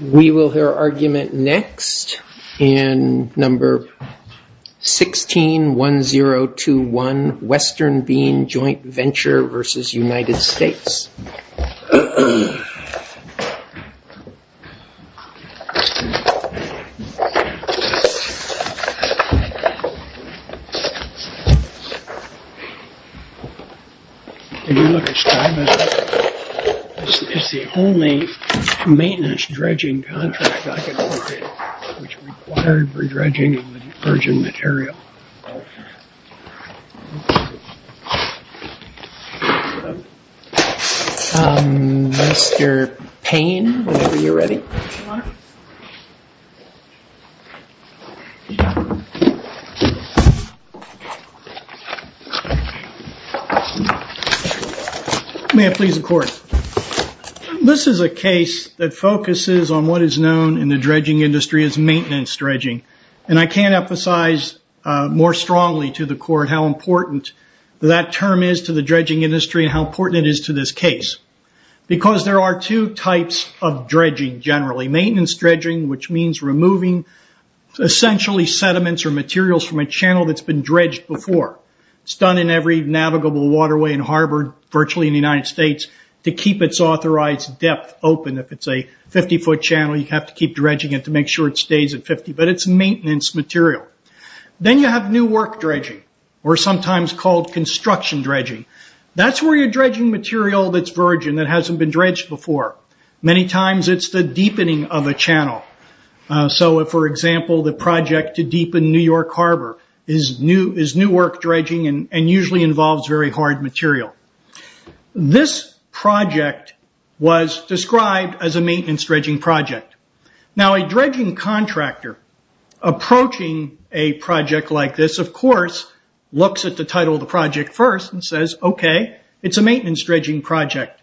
We will hear argument next in No. 161021, Western Bean Joint Venture v. United States. Did you look at Stuyvesant? It's the only maintenance dredging contract I could look at which required dredging of any urgent material. This is a case that focuses on what is known in the dredging industry as maintenance dredging. I can't emphasize more strongly to the court how important that term is to the dredging industry and how important it is to this case. Because there are two types of dredging generally. Maintenance dredging, which means removing essentially sediments or materials from a channel that's been dredged before. It's done in every navigable waterway and harbor virtually in the United States to keep its authorized depth open. If it's a 50-foot channel, you have to keep dredging it to make sure it stays at 50, but it's maintenance material. Then you have new work dredging or sometimes called construction dredging. That's where you're dredging material that's virgin, that hasn't been dredged before. Many times it's the deepening of a channel. For example, the project to deepen New York Harbor is new work dredging and usually involves very hard material. This project was described as a maintenance dredging project. A dredging contractor approaching a project like this, of course, looks at the title of the project first and says, okay, it's a maintenance dredging project.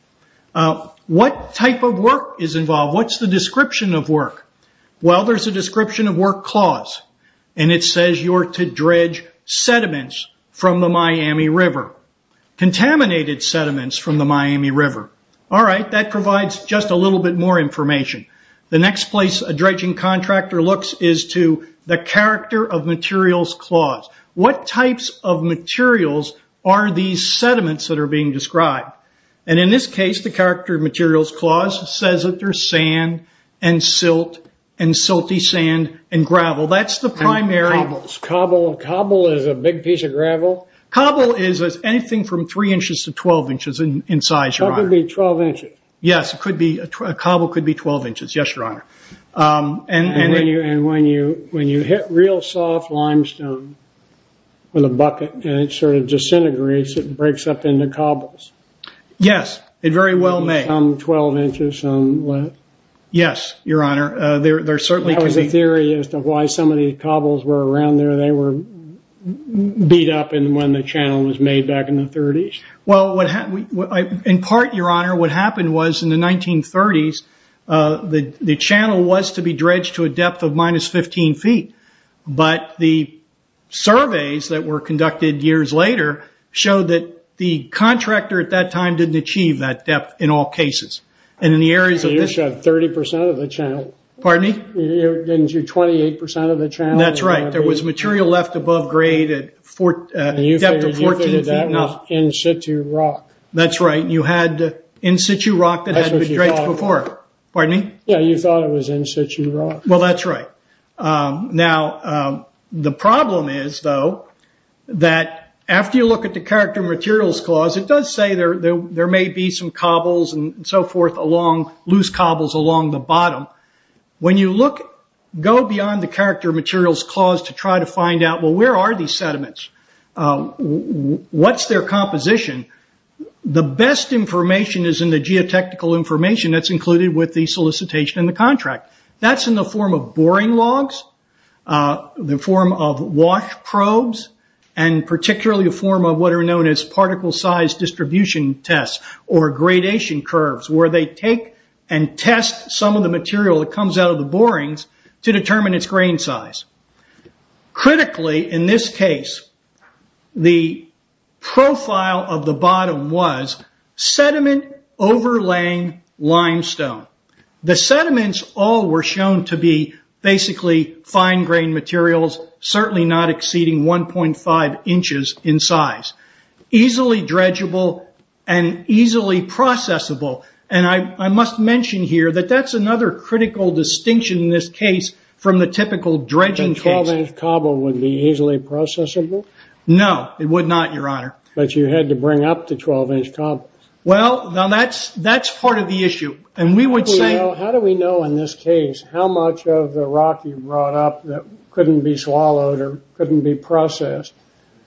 What type of work is involved? What's the description of work? There's a description of work clause. It says you're to dredge sediments from the Miami River. Contaminated sediments from the Miami River. All right, that provides just a little bit more information. The next place a dredging contractor looks is to the character of materials clause. What types of materials are these sediments that are being described? In this case, the character of materials clause says that there's sand and silt and silty sand and gravel. That's the primary. Cobble is a big piece of gravel? Cobble is anything from three inches to 12 inches in size, your honor. That could be 12 inches? Yes, a cobble could be 12 inches. Yes, your honor. When you hit real soft limestone with a bucket and it disintegrates, it breaks up into cobbles? Yes, it very well may. Some 12 inches, some less? Yes, your honor. That was a theory as to why some of these cobbles were around there. They were beat up when the channel was made back in the 30s? In part, your honor, what happened was in the 1930s, the channel was to be dredged to a depth of minus 15 feet. But the surveys that were conducted years later showed that the contractor at that time didn't achieve that depth in all cases. You showed 30% of the channel. Pardon me? You showed 28% of the channel. That's right. There was material left above grade at a depth of 14 feet. You figured that was in-situ rock. That's right. You had in-situ rock that had been dredged before. Pardon me? Yes, you thought it was in-situ rock. That's right. Now, the problem is, though, that after you look at the Character Materials Clause, it does say there may be some cobbles and so forth, loose cobbles along the bottom. When you go beyond the Character Materials Clause to try to find out, well, where are these sediments? What's their composition? The best information is in the geotechnical information that's included with the solicitation and the contract. That's in the form of boring logs, the form of wash probes, and particularly a form of what are known as particle size distribution tests or gradation curves, where they take and test some of the material that comes out of the borings to determine its grain size. Critically, in this case, the profile of the bottom was sediment overlaying limestone. The sediments all were shown to be basically fine-grained materials, certainly not exceeding 1.5 inches in size. Easily dredgeable and easily processable. I must mention here that that's another critical distinction in this case from the typical dredging case. The 12-inch cobble would be easily processable? No, it would not, Your Honor. But you had to bring up the 12-inch cobble. Well, that's part of the issue. How do we know in this case how much of the rock you brought up that couldn't be swallowed or couldn't be processed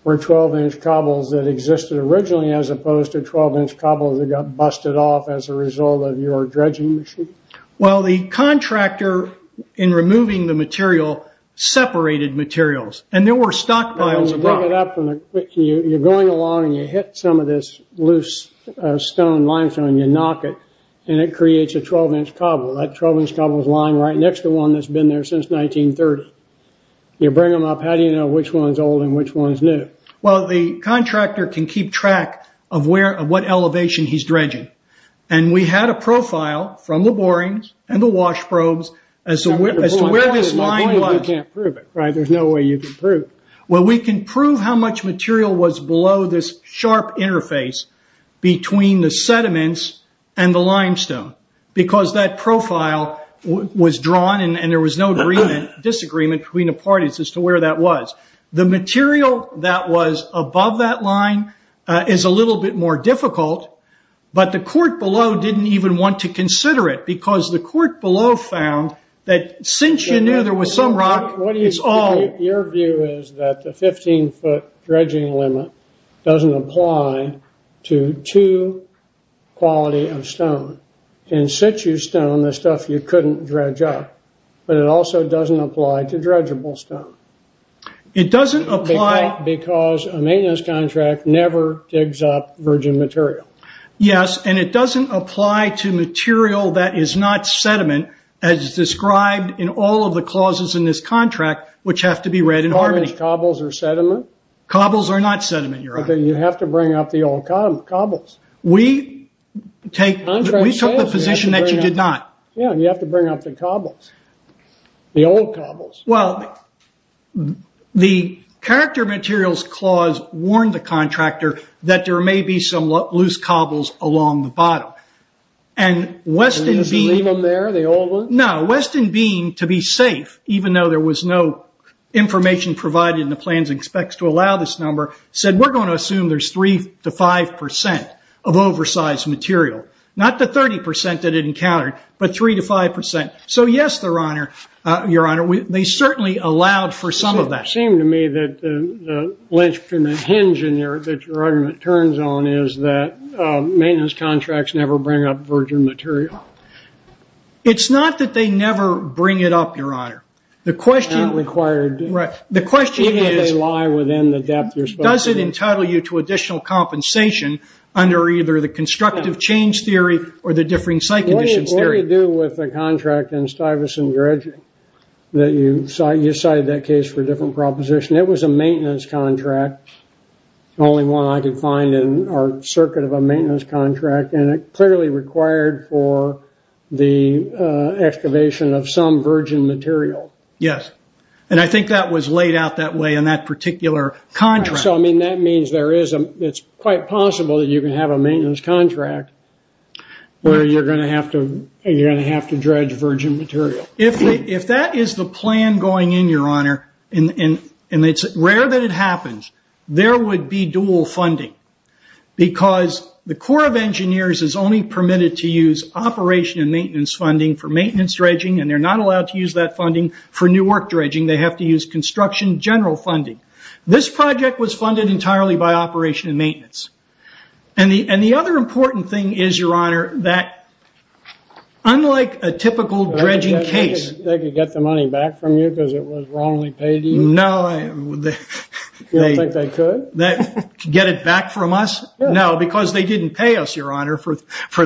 were 12-inch cobbles that existed originally, as opposed to 12-inch cobbles that got busted off as a result of your dredging machine? Well, the contractor in removing the material separated materials, and there were stockpiles of rock. You're going along and you hit some of this loose stone, limestone, and you knock it, and it creates a 12-inch cobble. That 12-inch cobble is lying right next to one that's been there since 1930. You bring them up. How do you know which one's old and which one's new? Well, the contractor can keep track of what elevation he's dredging. We had a profile from the borings and the wash probes as to where this line was. You can't prove it, right? There's no way you can prove it. Well, we can prove how much material was below this sharp interface between the sediments and the limestone, because that profile was drawn and there was no disagreement between the parties as to where that was. The material that was above that line is a little bit more difficult, but the court below didn't even want to consider it, because the court below found that since you knew there was some rock, it's all. Your view is that the 15-foot dredging limit doesn't apply to two quality of stone. In situ stone, the stuff you couldn't dredge up, but it also doesn't apply to dredgeable stone. It doesn't apply because a maintenance contract never digs up virgin material. Yes, and it doesn't apply to material that is not sediment, as described in all of the clauses in this contract, which have to be read in harmony. Are those cobbles or sediment? Cobbles are not sediment, Your Honor. Then you have to bring up the old cobbles. We took the position that you did not. Yes, and you have to bring up the cobbles, the old cobbles. Well, the character materials clause warned the contractor that there may be some loose cobbles along the bottom. Did they just leave them there, the old ones? No, Weston Bean, to be safe, even though there was no information provided in the plans and specs to allow this number, said, we're going to assume there's 3% to 5% of oversized material. Not the 30% that it encountered, but 3% to 5%. So yes, Your Honor, they certainly allowed for some of that. It does not seem to me that the hinge that your argument turns on is that maintenance contracts never bring up virgin material. It's not that they never bring it up, Your Honor. Not required. Right. The question is, does it entitle you to additional compensation under either the constructive change theory or the differing site conditions theory? Well, it had to do with the contract in Stuyvesant Dredge that you cited that case for a different proposition. It was a maintenance contract, the only one I could find in our circuit of a maintenance contract, and it clearly required for the excavation of some virgin material. Yes, and I think that was laid out that way in that particular contract. That means it's quite possible that you can have a maintenance contract where you're going to have to dredge virgin material. If that is the plan going in, Your Honor, and it's rare that it happens, there would be dual funding. Because the Corps of Engineers is only permitted to use operation and maintenance funding for maintenance dredging, and they're not allowed to use that funding for new work dredging. They have to use construction general funding. This project was funded entirely by operation and maintenance. The other important thing is, Your Honor, that unlike a typical dredging case- They could get the money back from you because it was wrongly paid to you? No. You don't think they could? Get it back from us? No, because they didn't pay us, Your Honor, for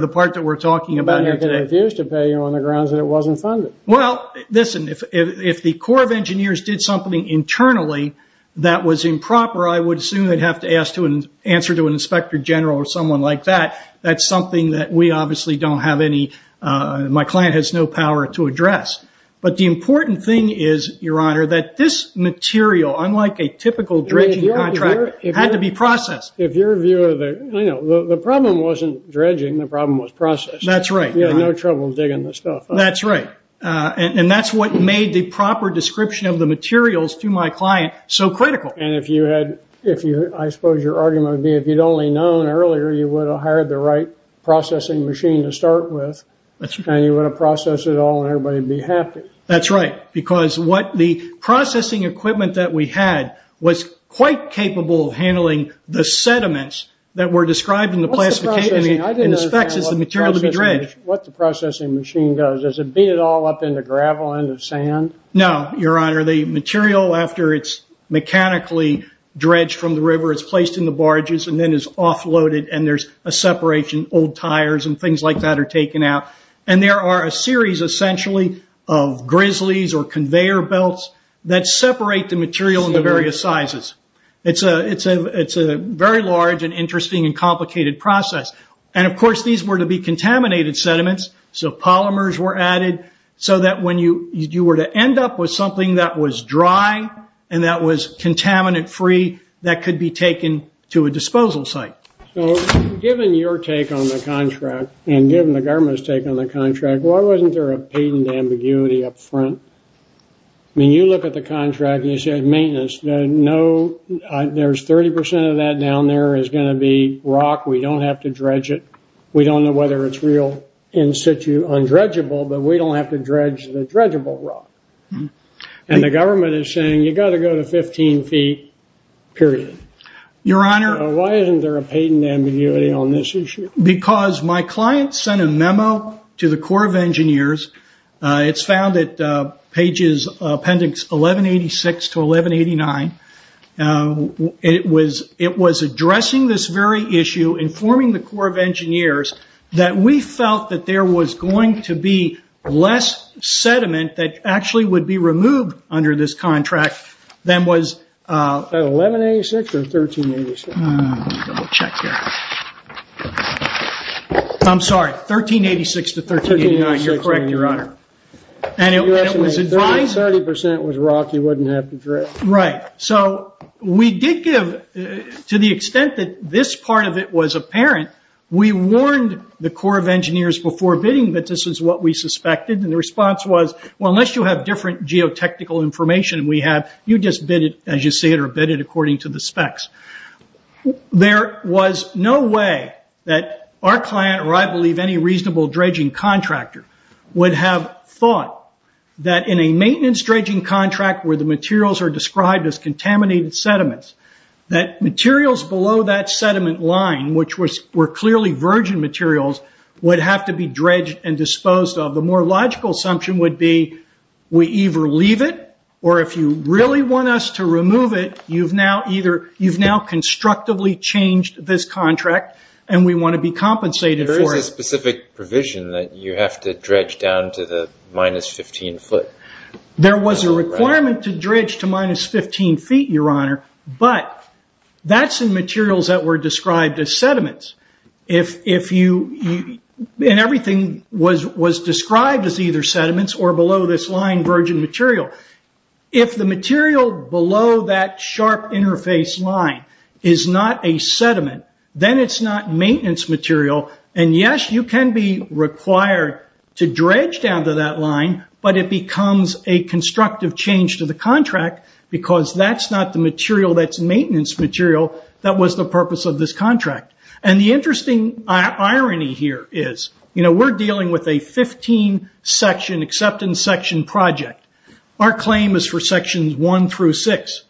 the part that we're talking about here today. They could refuse to pay you on the grounds that it wasn't funded. Well, listen, if the Corps of Engineers did something internally that was improper, I would assume they'd have to answer to an inspector general or someone like that. That's something that we obviously don't have any-my client has no power to address. But the important thing is, Your Honor, that this material, unlike a typical dredging contract, had to be processed. If you're a viewer, the problem wasn't dredging. The problem was processing. That's right. You had no trouble digging the stuff up. That's right. And that's what made the proper description of the materials to my client so critical. And if you had-I suppose your argument would be if you'd only known earlier, you would have hired the right processing machine to start with, and you would have processed it all, and everybody would be happy. That's right, because the processing equipment that we had was quite capable of handling the sediments that were described in the specs as the material to be dredged. What the processing machine does, does it beat it all up into gravel, into sand? No, Your Honor. The material, after it's mechanically dredged from the river, it's placed in the barges and then is offloaded, and there's a separation. Old tires and things like that are taken out. And there are a series, essentially, of grizzlies or conveyor belts that separate the material into various sizes. It's a very large and interesting and complicated process. And, of course, these were to be contaminated sediments, so polymers were added, so that when you were to end up with something that was dry and that was contaminant-free, that could be taken to a disposal site. So given your take on the contract and given the government's take on the contract, why wasn't there a patent ambiguity up front? I mean, you look at the contract, and you said maintenance. There's 30 percent of that down there is going to be rock. We don't have to dredge it. We don't know whether it's real, in situ, undredgeable, but we don't have to dredge the dredgeable rock. And the government is saying, you've got to go to 15 feet, period. Your Honor. Why isn't there a patent ambiguity on this issue? Because my client sent a memo to the Corps of Engineers. It's found at pages, appendix 1186 to 1189. It was addressing this very issue, informing the Corps of Engineers, that we felt that there was going to be less sediment that actually would be removed under this contract than was... 1186 or 1386? Let me double check here. I'm sorry, 1386 to 1389. 1386, Your Honor. You're correct, Your Honor. And it was advised... You're asking me, if 30 percent was rock, you wouldn't have to dredge? Right. So we did give, to the extent that this part of it was apparent, we warned the Corps of Engineers before bidding that this is what we suspected. And the response was, well, unless you have different geotechnical information than we have, you just bid it as you see it, or bid it according to the specs. There was no way that our client, or I believe any reasonable dredging contractor, would have thought that in a maintenance dredging contract, where the materials are described as contaminated sediments, that materials below that sediment line, which were clearly virgin materials, would have to be dredged and disposed of. The more logical assumption would be, we either leave it, or if you really want us to remove it, you've now constructively changed this contract, and we want to be compensated for it. You didn't dredge down to the minus 15 foot. There was a requirement to dredge to minus 15 feet, Your Honor, but that's in materials that were described as sediments. And everything was described as either sediments or below this line, virgin material. If the material below that sharp interface line is not a sediment, then it's not maintenance material. And yes, you can be required to dredge down to that line, but it becomes a constructive change to the contract, because that's not the material that's maintenance material that was the purpose of this contract. And the interesting irony here is, we're dealing with a 15 section, acceptance section project. Our claim is for sections one through six.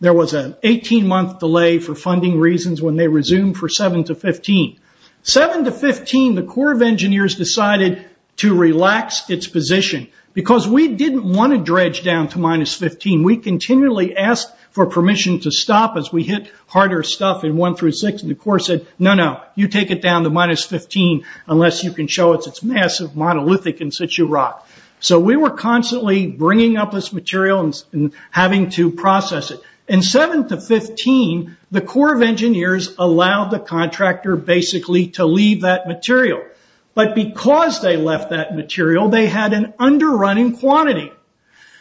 There was an 18-month delay for funding reasons when they resumed for seven to 15. Seven to 15, the Corps of Engineers decided to relax its position, because we didn't want to dredge down to minus 15. We continually asked for permission to stop as we hit harder stuff in one through six, and the Corps said, no, no, you take it down to minus 15, unless you can show us it's massive, monolithic, in situ rock. So we were constantly bringing up this material and having to process it. In seven to 15, the Corps of Engineers allowed the contractor, basically, to leave that material. But because they left that material, they had an underrunning quantity.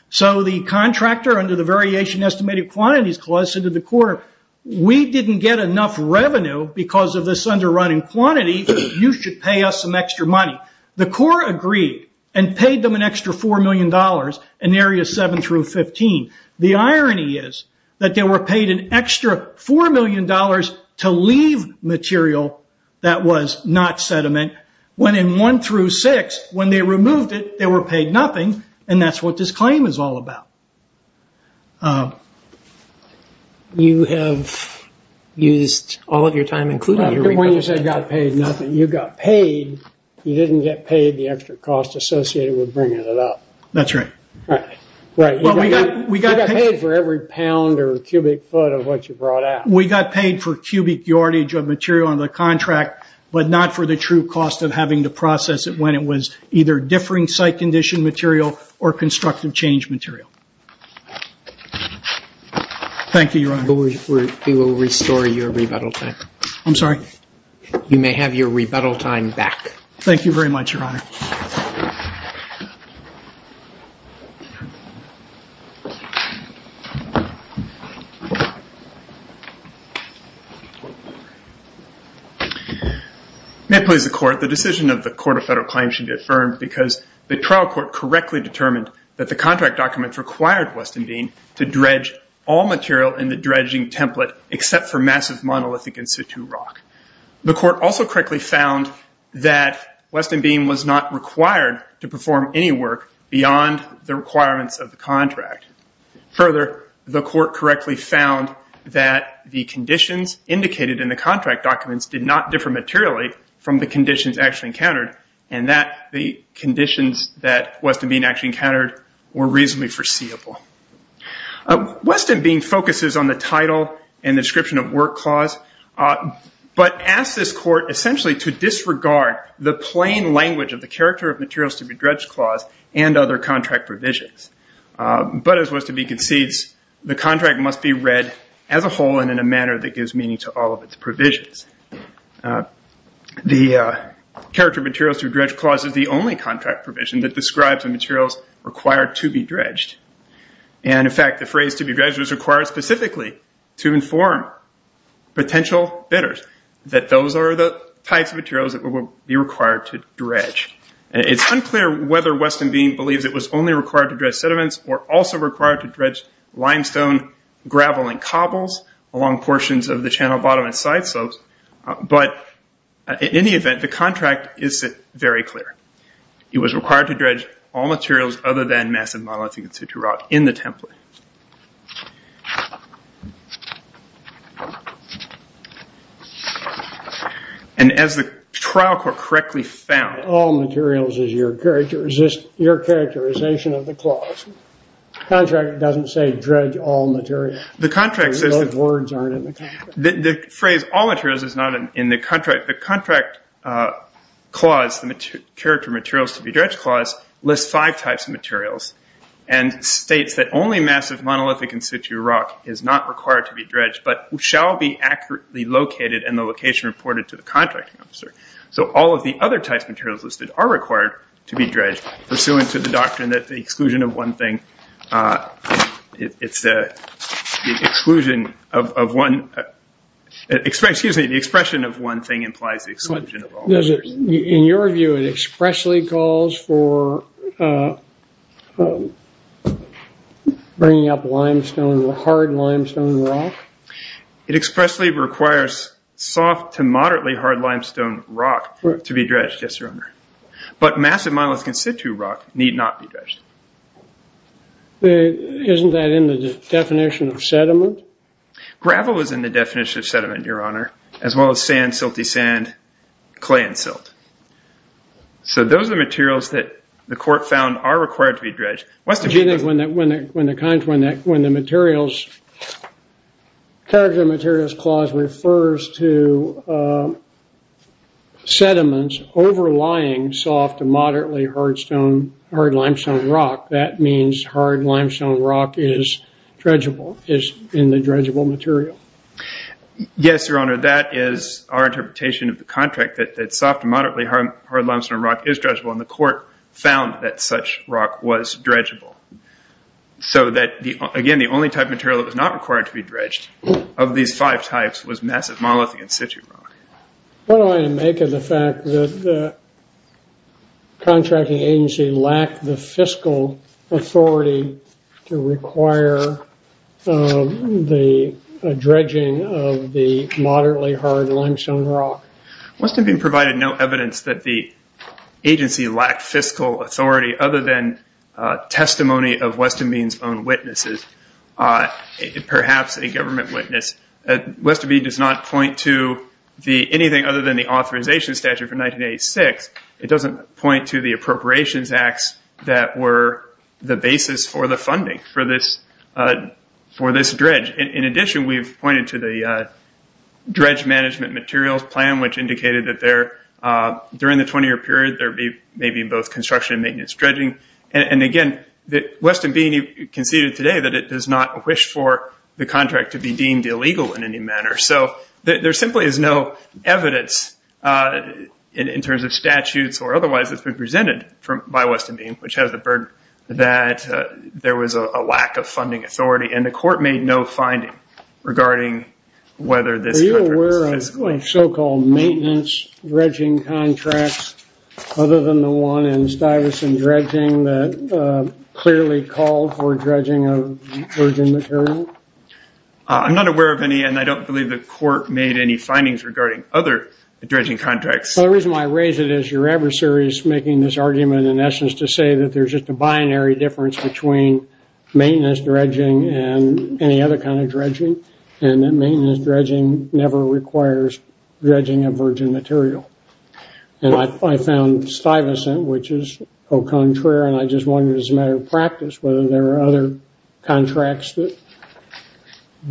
So the contractor, under the Variation Estimated Quantities Clause, said to the Corps, we didn't get enough revenue because of this underrunning quantity. You should pay us some extra money. The Corps agreed and paid them an extra $4 million in areas seven through 15. The irony is that they were paid an extra $4 million to leave material that was not sediment, when in one through six, when they removed it, they were paid nothing, and that's what this claim is all about. You have used all of your time, including your... When you said got paid nothing, you got paid. You didn't get paid the extra cost associated with bringing it up. That's right. Right. You got paid for every pound or cubic foot of what you brought out. We got paid for cubic yardage of material under the contract, but not for the true cost of having to process it when it was either differing site condition material or constructive change material. Thank you, Your Honor. We will restore your rebuttal time. I'm sorry? You may have your rebuttal time back. Thank you very much, Your Honor. May it please the Court. The decision of the Court of Federal Claims should be affirmed because the trial court correctly determined that the contract documents required Weston Bean to dredge all material in the dredging template except for massive monolithic in situ rock. The court also correctly found that Weston Bean was not required to perform any work beyond the requirements of the contract. Further, the court correctly found that the conditions indicated in the contract documents did not differ materially from the conditions actually encountered and that the conditions that Weston Bean actually encountered were reasonably foreseeable. Weston Bean focuses on the title and description of work clause. But asks this court essentially to disregard the plain language of the character of materials to be dredged clause and other contract provisions. But as Weston Bean concedes, the contract must be read as a whole and in a manner that gives meaning to all of its provisions. The character of materials to be dredged clause is the only contract provision that describes the materials required to be dredged. In fact, the phrase to be dredged is required specifically to inform potential bidders that those are the types of materials that will be required to dredge. It's unclear whether Weston Bean believes it was only required to dredge sediments or also required to dredge limestone, gravel, and cobbles along portions of the channel bottom and side slopes. But in any event, the contract is very clear. It was required to dredge all materials other than massive monolithic in the template. And as the trial court correctly found... All materials is your characterization of the clause. Contract doesn't say dredge all materials. The contract says... Those words aren't in the contract. The phrase all materials is not in the contract. The contract clause, the character of materials to be dredged clause, lists five types of materials and states that only massive monolithic in situ rock is not required to be dredged but shall be accurately located and the location reported to the contracting officer. So all of the other types of materials listed are required to be dredged pursuant to the doctrine that the exclusion of one thing... It's the exclusion of one... Excuse me. The expression of one thing implies the exclusion of all others. In your view, it expressly calls for bringing up limestone, hard limestone rock? It expressly requires soft to moderately hard limestone rock to be dredged, yes, Your Honor. But massive monolithic in situ rock need not be dredged. Isn't that in the definition of sediment? Gravel is in the definition of sediment, Your Honor, as well as sand, silty sand, clay, and silt. So those are the materials that the court found are required to be dredged. When the materials... Character of materials clause refers to sediments overlying soft to moderately hard limestone rock, that means hard limestone rock is dredgeable, is in the dredgeable material. Yes, Your Honor, that is our interpretation of the contract, that soft to moderately hard limestone rock is dredgeable, and the court found that such rock was dredgeable. So that, again, the only type of material that was not required to be dredged of these five types was massive monolithic in situ rock. What do I make of the fact that the contracting agency lacked the fiscal authority to require the dredging of the moderately hard limestone rock? Westonbine provided no evidence that the agency lacked fiscal authority other than testimony of Westonbine's own witnesses, perhaps a government witness. Westonbine does not point to anything other than the authorization statute from 1986. It doesn't point to the appropriations acts that were the basis for the funding for this dredge. In addition, we've pointed to the dredge management materials plan, which indicated that during the 20-year period, there may be both construction and maintenance dredging. Again, Westonbine conceded today that it does not wish for the contract to be deemed illegal in any manner. So there simply is no evidence in terms of statutes or otherwise that's been presented by Westonbine, which has the burden that there was a lack of funding authority, and the court made no finding regarding whether this contract was fiscal. Are you aware of so-called maintenance dredging contracts other than the one in Stuyvesant dredging that clearly called for dredging of virgin material? I'm not aware of any, and I don't believe the court made any findings regarding other dredging contracts. The reason why I raise it is your adversary is making this argument in essence to say that there's just a binary difference between maintenance dredging and any other kind of dredging, and that maintenance dredging never requires dredging of virgin material. And I found Stuyvesant, which is au contraire, and I just wondered as a matter of practice whether there were other contracts that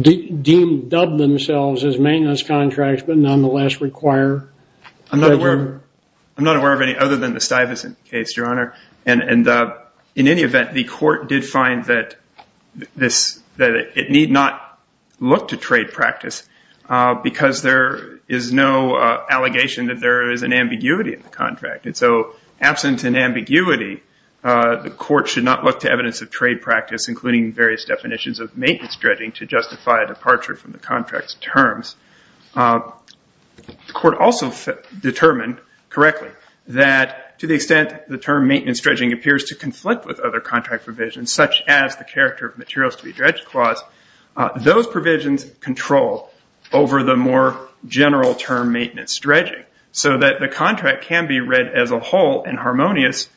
deemed themselves as maintenance contracts but nonetheless require dredging. I'm not aware of any other than the Stuyvesant case, Your Honor, and in any event, the court did find that it need not look to trade practice because there is no allegation that there is an ambiguity in the contract. And so absent an ambiguity, the court should not look to evidence of trade practice, including various definitions of maintenance dredging, to justify a departure from the contract's terms. The court also determined correctly that to the extent the term maintenance dredging appears to conflict with other contract provisions, such as the character of materials to be dredged clause, those provisions control over the more general term maintenance dredging so that the contract can be read as a whole and harmonious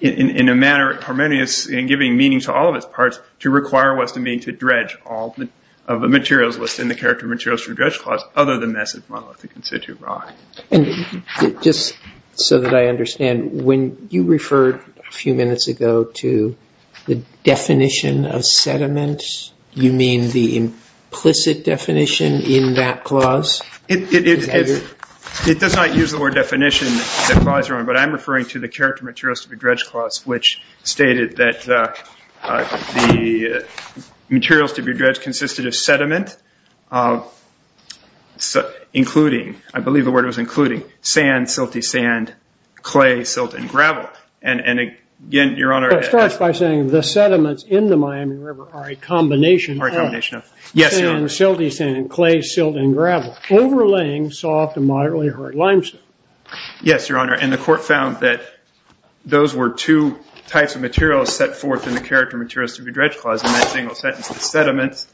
in giving meaning to all of its parts to require what's to mean to dredge all of the materials listed in the character of materials to be dredged clause other than massive monolithic in situ rock. And just so that I understand, when you referred a few minutes ago to the definition of sediment, you mean the implicit definition in that clause? It does not use the word definition, Your Honor, but I'm referring to the character of materials to be dredged clause, which stated that the materials to be dredged consisted of sediment, including, I believe the word was including, sand, silty sand, clay, silt, and gravel. And again, Your Honor, It starts by saying the sediments in the Miami River are a combination of sand, silty sand, clay, silt, and gravel, overlaying soft and moderately hard limestone. Yes, Your Honor, and the court found that those were two types of materials set forth in the character of materials to be dredged clause in that single sentence of sediments,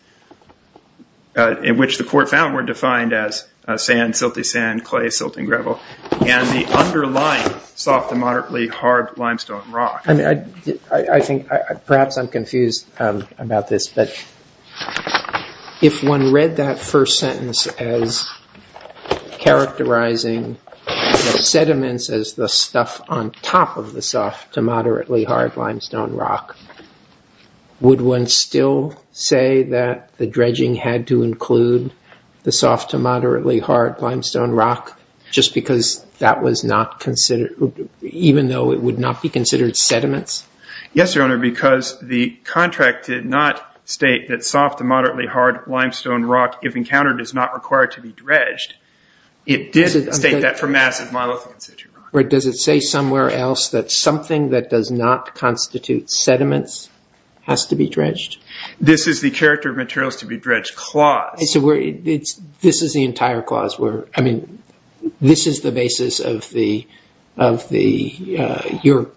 in which the court found were defined as sand, silty sand, clay, silt, and gravel, and the underlying soft and moderately hard limestone rock. I think perhaps I'm confused about this, but if one read that first sentence as characterizing the sediments as the stuff on top of the soft to moderately hard limestone rock, would one still say that the dredging had to include the soft to moderately hard limestone rock, just because that was not considered, even though it would not be considered sediments? Yes, Your Honor, because the contract did not state that soft to moderately hard limestone rock, if encountered, is not required to be dredged. It did state that for massive monolithic sediment. Does it say somewhere else that something that does not constitute sediments has to be dredged? This is the character of materials to be dredged clause. This is the entire clause. This is the basis of your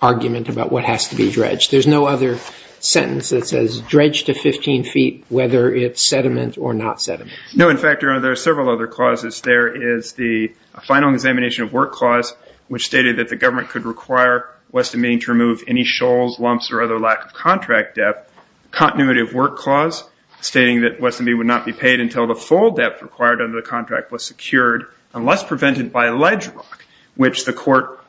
argument about what has to be dredged. There's no other sentence that says dredged to 15 feet, whether it's sediment or not sediment. No, in fact, Your Honor, there are several other clauses. There is the final examination of work clause, which stated that the government could require Weston Mead to remove any shoals, lumps, or other lack of contract depth. Continuity of work clause, stating that Weston Mead would not be paid until the full depth required under the contract was secured, unless prevented by ledge rock, which the court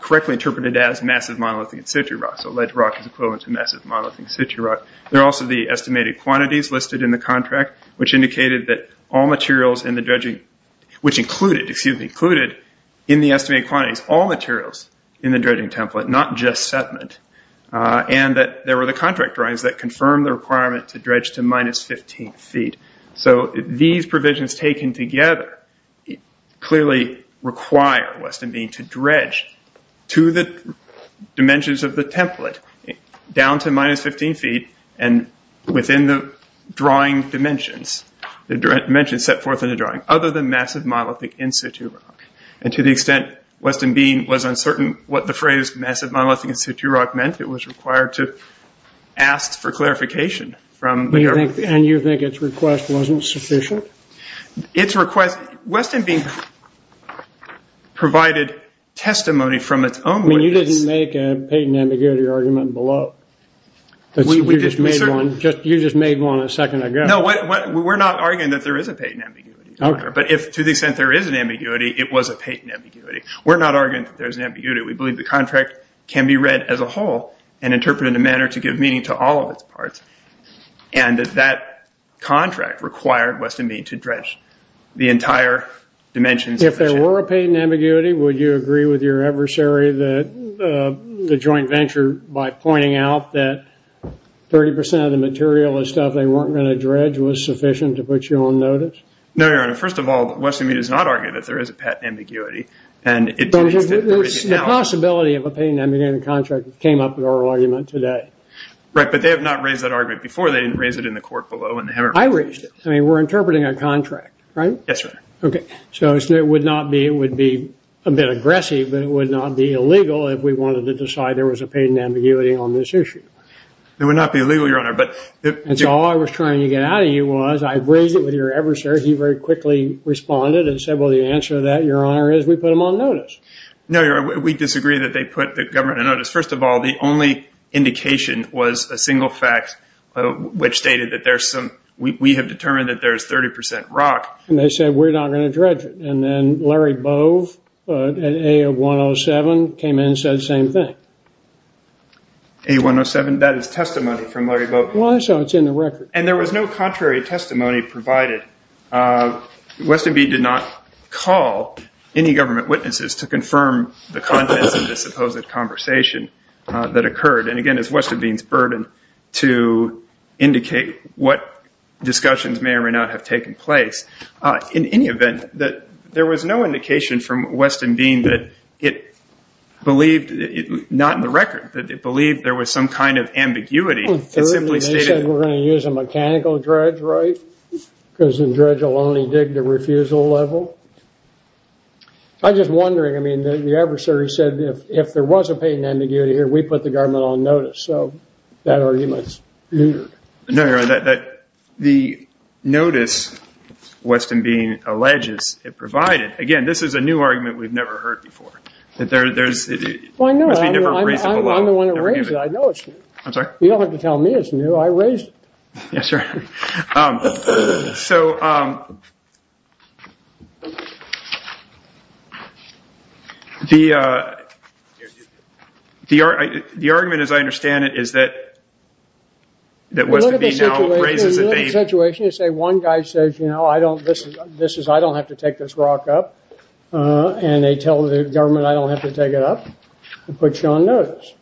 correctly interpreted as massive monolithic sediment rock. Ledge rock is equivalent to massive monolithic sediment rock. There are also the estimated quantities listed in the contract, which included in the estimated quantities all materials in the dredging template, not just sediment. There were the contract drawings that confirmed the requirement to dredge to minus 15 feet. These provisions taken together clearly require Weston Mead to dredge to the dimensions of the template down to minus 15 feet and within the drawing dimensions, the dimensions set forth in the drawing, other than massive monolithic in situ rock. To the extent Weston Mead was uncertain what the phrase massive monolithic in situ rock meant, it was required to ask for clarification from the government. And you think its request wasn't sufficient? Its request, Weston Mead provided testimony from its own witness. You didn't make a patent ambiguity argument below. You just made one a second ago. No, we're not arguing that there is a patent ambiguity. But to the extent there is an ambiguity, it was a patent ambiguity. We're not arguing that there's an ambiguity. We believe the contract can be read as a whole and interpreted in a manner to give meaning to all of its parts. And that contract required Weston Mead to dredge the entire dimensions of the chamber. If there were a patent ambiguity, would you agree with your adversary, the joint venture, by pointing out that 30% of the material and stuff they weren't going to dredge was sufficient to put you on notice? No, Your Honor. First of all, Weston Mead has not argued that there is a patent ambiguity. The possibility of a patent ambiguity contract came up in our argument today. Right, but they have not raised that argument before. They didn't raise it in the court below. I raised it. I mean, we're interpreting a contract, right? Yes, Your Honor. Okay. So it would be a bit aggressive, but it would not be illegal if we wanted to decide there was a patent ambiguity on this issue. It would not be illegal, Your Honor. And so all I was trying to get out of you was I raised it with your adversary. He very quickly responded and said, well, the answer to that, Your Honor, is we put him on notice. No, Your Honor. We disagree that they put the government on notice. First of all, the only indication was a single fact, which stated that we have determined that there is 30% rock. And they said we're not going to dredge it. And then Larry Bove at A107 came in and said the same thing. A107? That is testimony from Larry Bove. Well, I saw it. It's in the record. And there was no contrary testimony provided. Weston B. did not call any government witnesses to confirm the contents of this supposed conversation that occurred. And, again, it's Weston B.'s burden to indicate what discussions may or may not have taken place. In any event, there was no indication from Weston B. that it believed, not in the record, that it believed there was some kind of ambiguity. They said we're going to use a mechanical dredge, right? Because the dredge will only dig the refusal level. I'm just wondering. I mean, the adversary said if there was a patent ambiguity here, we put the government on notice. So that argument is weird. No, Your Honor. The notice, Weston B. alleges it provided, again, this is a new argument we've never heard before. There must be a different reason below. I'm the one who raised it. I know it's new. I'm sorry? You don't have to tell me it's new. I raised it. Yes, sir. So the argument, as I understand it, is that Weston B. now raises it. A little bit of a situation. A little bit of a situation. You say one guy says, you know, I don't have to take this rock up. And they tell the government I don't have to take it up. They put you on notice.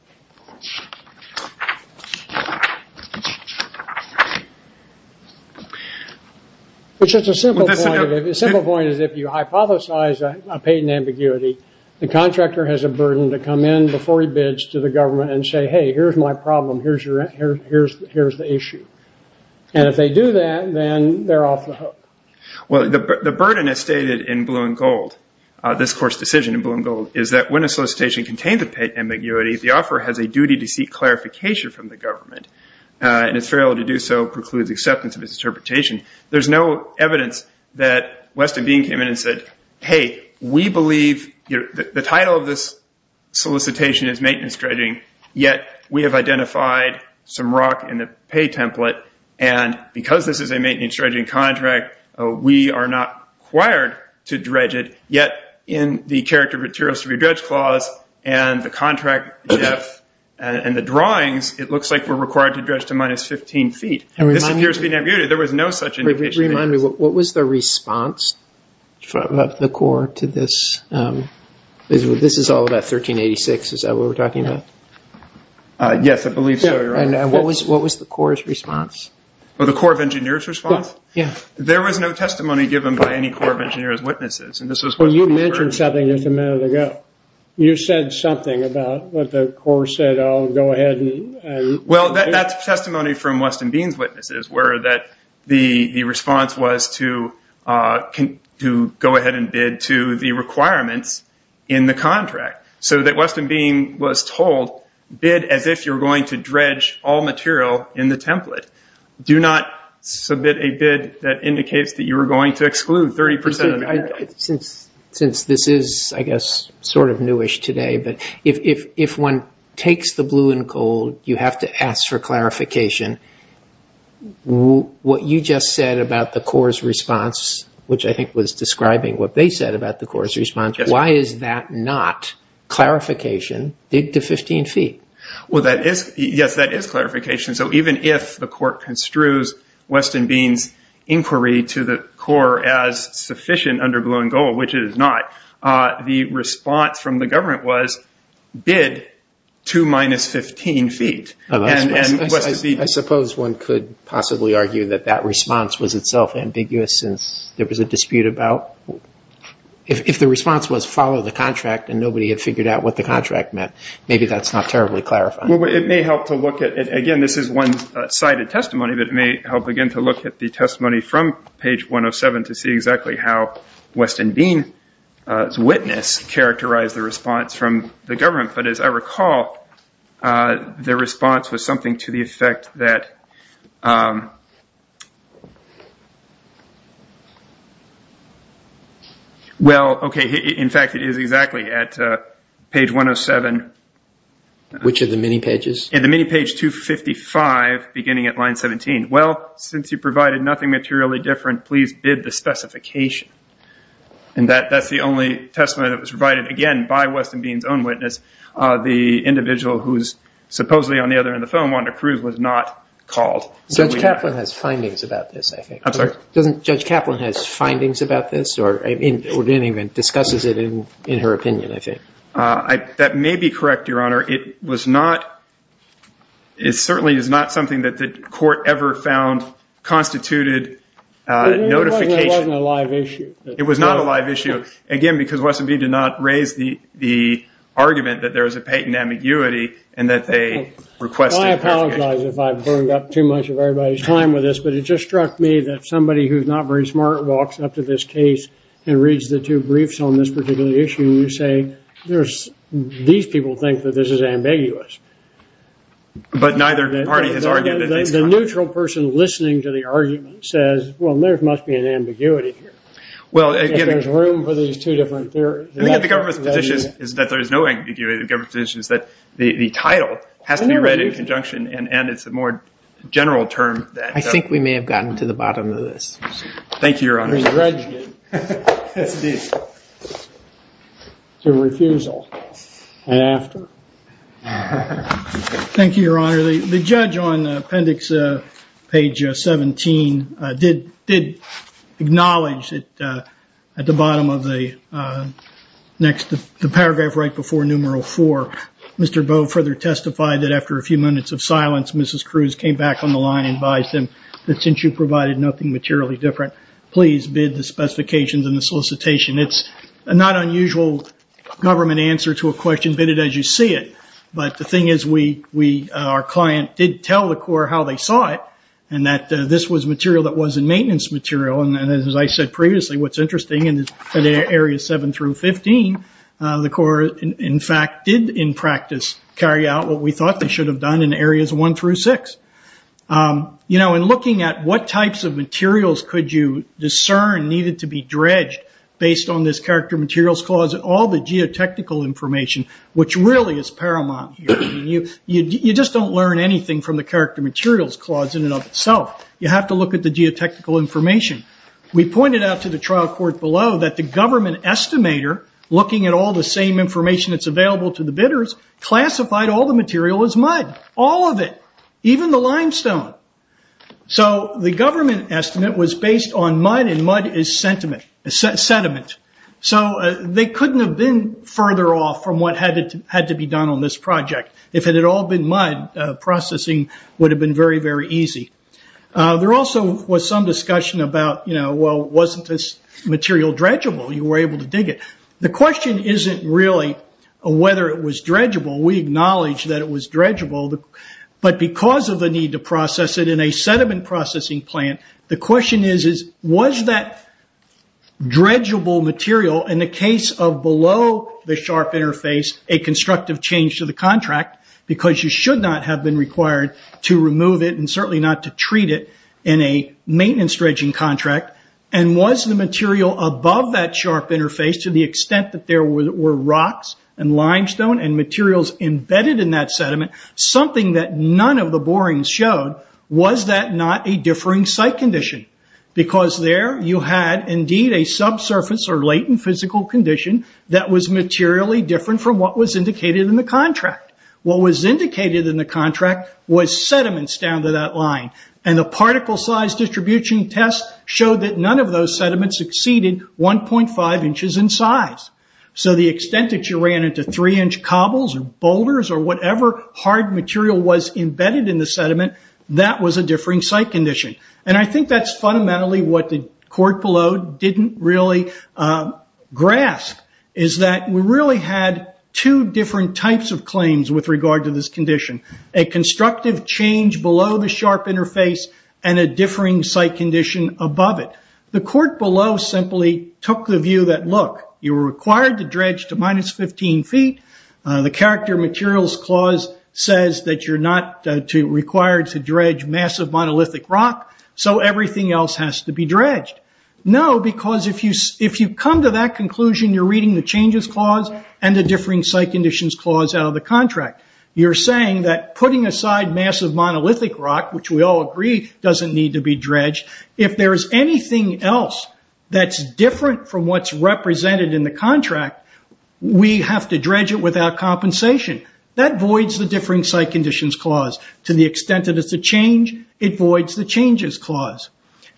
It's just a simple point. The simple point is if you hypothesize a patent ambiguity, the contractor has a burden to come in before he bids to the government and say, hey, here's my problem. Here's the issue. And if they do that, then they're off the hook. Well, the burden, as stated in blue and gold, this court's decision in blue and gold, is that when a solicitation contains a patent ambiguity, the offeror has a duty to seek clarification from the government. And if failed to do so, precludes acceptance of his interpretation. There's no evidence that Weston B. came in and said, hey, we believe the title of this solicitation is maintenance dredging, yet we have identified some rock in the pay template. And because this is a maintenance dredging contract, we are not required to dredge it. Yet in the character materials to be dredged clause and the contract and the drawings, it looks like we're required to dredge to minus 15 feet. This appears to be an ambiguity. There was no such indication. Remind me, what was the response from the court to this? This is all about 1386. Is that what we're talking about? Yes, I believe so, Your Honor. And what was the court's response? Well, the court of engineer's response? There was no testimony given by any court of engineer's witnesses. Well, you mentioned something just a minute ago. You said something about what the court said, oh, go ahead. Well, that's testimony from Weston Bean's witnesses, where the response was to go ahead and bid to the requirements in the contract, so that Weston Bean was told, bid as if you're going to dredge all material in the template. Do not submit a bid that indicates that you are going to exclude 30% of the It's sort of newish today, but if one takes the blue and gold, you have to ask for clarification. What you just said about the court's response, which I think was describing what they said about the court's response, why is that not clarification, dig to 15 feet? Well, yes, that is clarification. So even if the court construes Weston Bean's inquiry to the court as sufficient under blue and gold, which it is not, the response from the government was bid 2 minus 15 feet. I suppose one could possibly argue that that response was itself ambiguous since there was a dispute about if the response was follow the contract and nobody had figured out what the contract meant, maybe that's not terribly clarifying. It may help to look at, again, this is one-sided testimony, but it may help again to look at the testimony from page 107 to see exactly how Weston Bean's witness characterized the response from the government. But as I recall, their response was something to the effect that, well, okay, in fact it is exactly at page 107. Which of the many pages? At the many page 255 beginning at line 17. Well, since you provided nothing materially different, please bid the specification. And that's the only testimony that was provided, again, by Weston Bean's own witness. The individual who's supposedly on the other end of the phone, Wanda Cruz, was not called. Judge Kaplan has findings about this, I think. I'm sorry? Doesn't Judge Kaplan has findings about this or even discusses it in her opinion, I think? That may be correct, Your Honor. It certainly is not something that the court ever found constituted notification. It wasn't a live issue. It was not a live issue. Again, because Weston Bean did not raise the argument that there was a patent ambiguity and that they requested clarification. I apologize if I've burned up too much of everybody's time with this, but it just struck me that somebody who's not very smart walks up to this case and reads the two briefs on this particular issue and you say, these people think that this is ambiguous. But neither party has argued that it's not. The neutral person listening to the argument says, well, there must be an ambiguity here if there's room for these two different theories. The government's position is that there is no ambiguity. The government's position is that the title has to be read in conjunction and it's a more general term. Thank you, Your Honor. Yes, it is. It's a refusal. And after. Thank you, Your Honor. The judge on appendix page 17 did acknowledge that at the bottom of the next, the paragraph right before numeral four, Mr. Bowe further testified that after a few minutes of silence, Mrs. Cruz came back on the line and advised him that since you provided nothing materially different, please bid the specifications and the solicitation. It's a not unusual government answer to a question. Bid it as you see it. But the thing is, our client did tell the court how they saw it and that this was material that wasn't maintenance material. And as I said previously, what's interesting, in areas seven through 15, the court, in fact, did in practice carry out what we thought they should have done in areas one through six. In looking at what types of materials could you discern needed to be dredged based on this character materials clause, all the geotechnical information, which really is paramount here. You just don't learn anything from the character materials clause in and of itself. You have to look at the geotechnical information. We pointed out to the trial court below that the government estimator, looking at all the same information that's available to the bidders, classified all the material as mud. All of it. Even the limestone. So the government estimate was based on mud, and mud is sediment. So they couldn't have been further off from what had to be done on this project. If it had all been mud, processing would have been very, very easy. There also was some discussion about, well, wasn't this material dredgeable? You were able to dig it. The question isn't really whether it was dredgeable. We acknowledge that it was dredgeable, but because of the need to process it in a sediment processing plant, the question is, was that dredgeable material, in the case of below the sharp interface, a constructive change to the contract, because you should not have been required to remove it and certainly not to treat it in a maintenance dredging contract, and was the material above that sharp interface, to the extent that there were rocks and limestone and materials embedded in that sediment, something that none of the borings showed, was that not a differing site condition? Because there you had, indeed, a subsurface or latent physical condition that was materially different from what was indicated in the contract. What was indicated in the contract was sediments down to that line, and the particle size distribution test showed that none of those sediments exceeded 1.5 inches in size. The extent that you ran into three inch cobbles or boulders or whatever hard material was embedded in the sediment, that was a differing site condition. I think that's fundamentally what the court below didn't really grasp, is that we really had two different types of claims with regard to this condition. A constructive change below the sharp interface and a differing site condition above it. The court below simply took the view that, look, you were required to dredge to minus 15 feet. The character materials clause says that you're not required to dredge massive monolithic rock, so everything else has to be dredged. No, because if you come to that conclusion, you're reading the changes clause and the differing site conditions clause out of the contract. You're saying that putting aside massive monolithic rock, which we all agree doesn't need to be dredged, if there is anything else that's different from what's represented in the contract, we have to dredge it without compensation. That voids the differing site conditions clause. To the extent that it's a change, it voids the changes clause.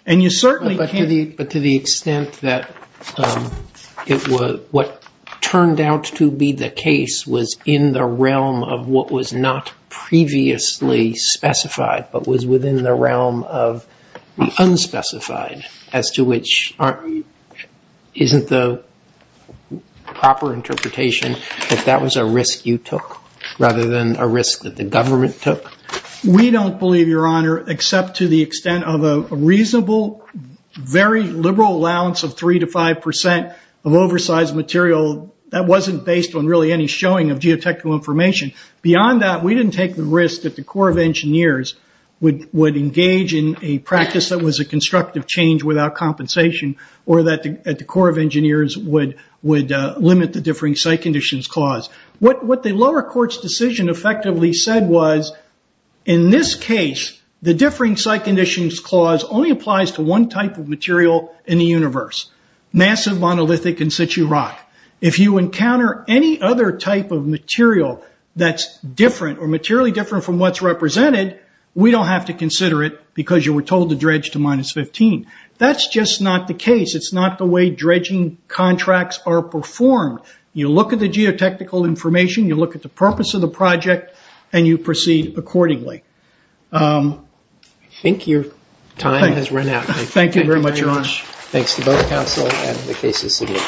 And you certainly can't... But to the extent that what turned out to be the case was in the realm of what was not previously specified but was within the realm of the unspecified, as to which isn't the proper interpretation that that was a risk you took rather than a risk that the government took? We don't believe, Your Honor, except to the extent of a reasonable, very liberal allowance of 3% to 5% of oversized material that wasn't based on really any showing of geotechnical information. Beyond that, we didn't take the risk that the Corps of Engineers would engage in a practice that was a constructive change without compensation or that the Corps of Engineers would limit the differing site conditions clause. What the lower court's decision effectively said was, in this case, the differing site conditions clause only applies to one type of material in the universe, massive monolithic in situ rock. If you encounter any other type of material that's different or materially different from what's represented, we don't have to consider it because you were told to dredge to minus 15. That's just not the case. It's not the way dredging contracts are performed. You look at the geotechnical information, you look at the purpose of the project, and you proceed accordingly. I think your time has run out. Thank you very much, Your Honor. Thanks to both counsel and the cases submitted.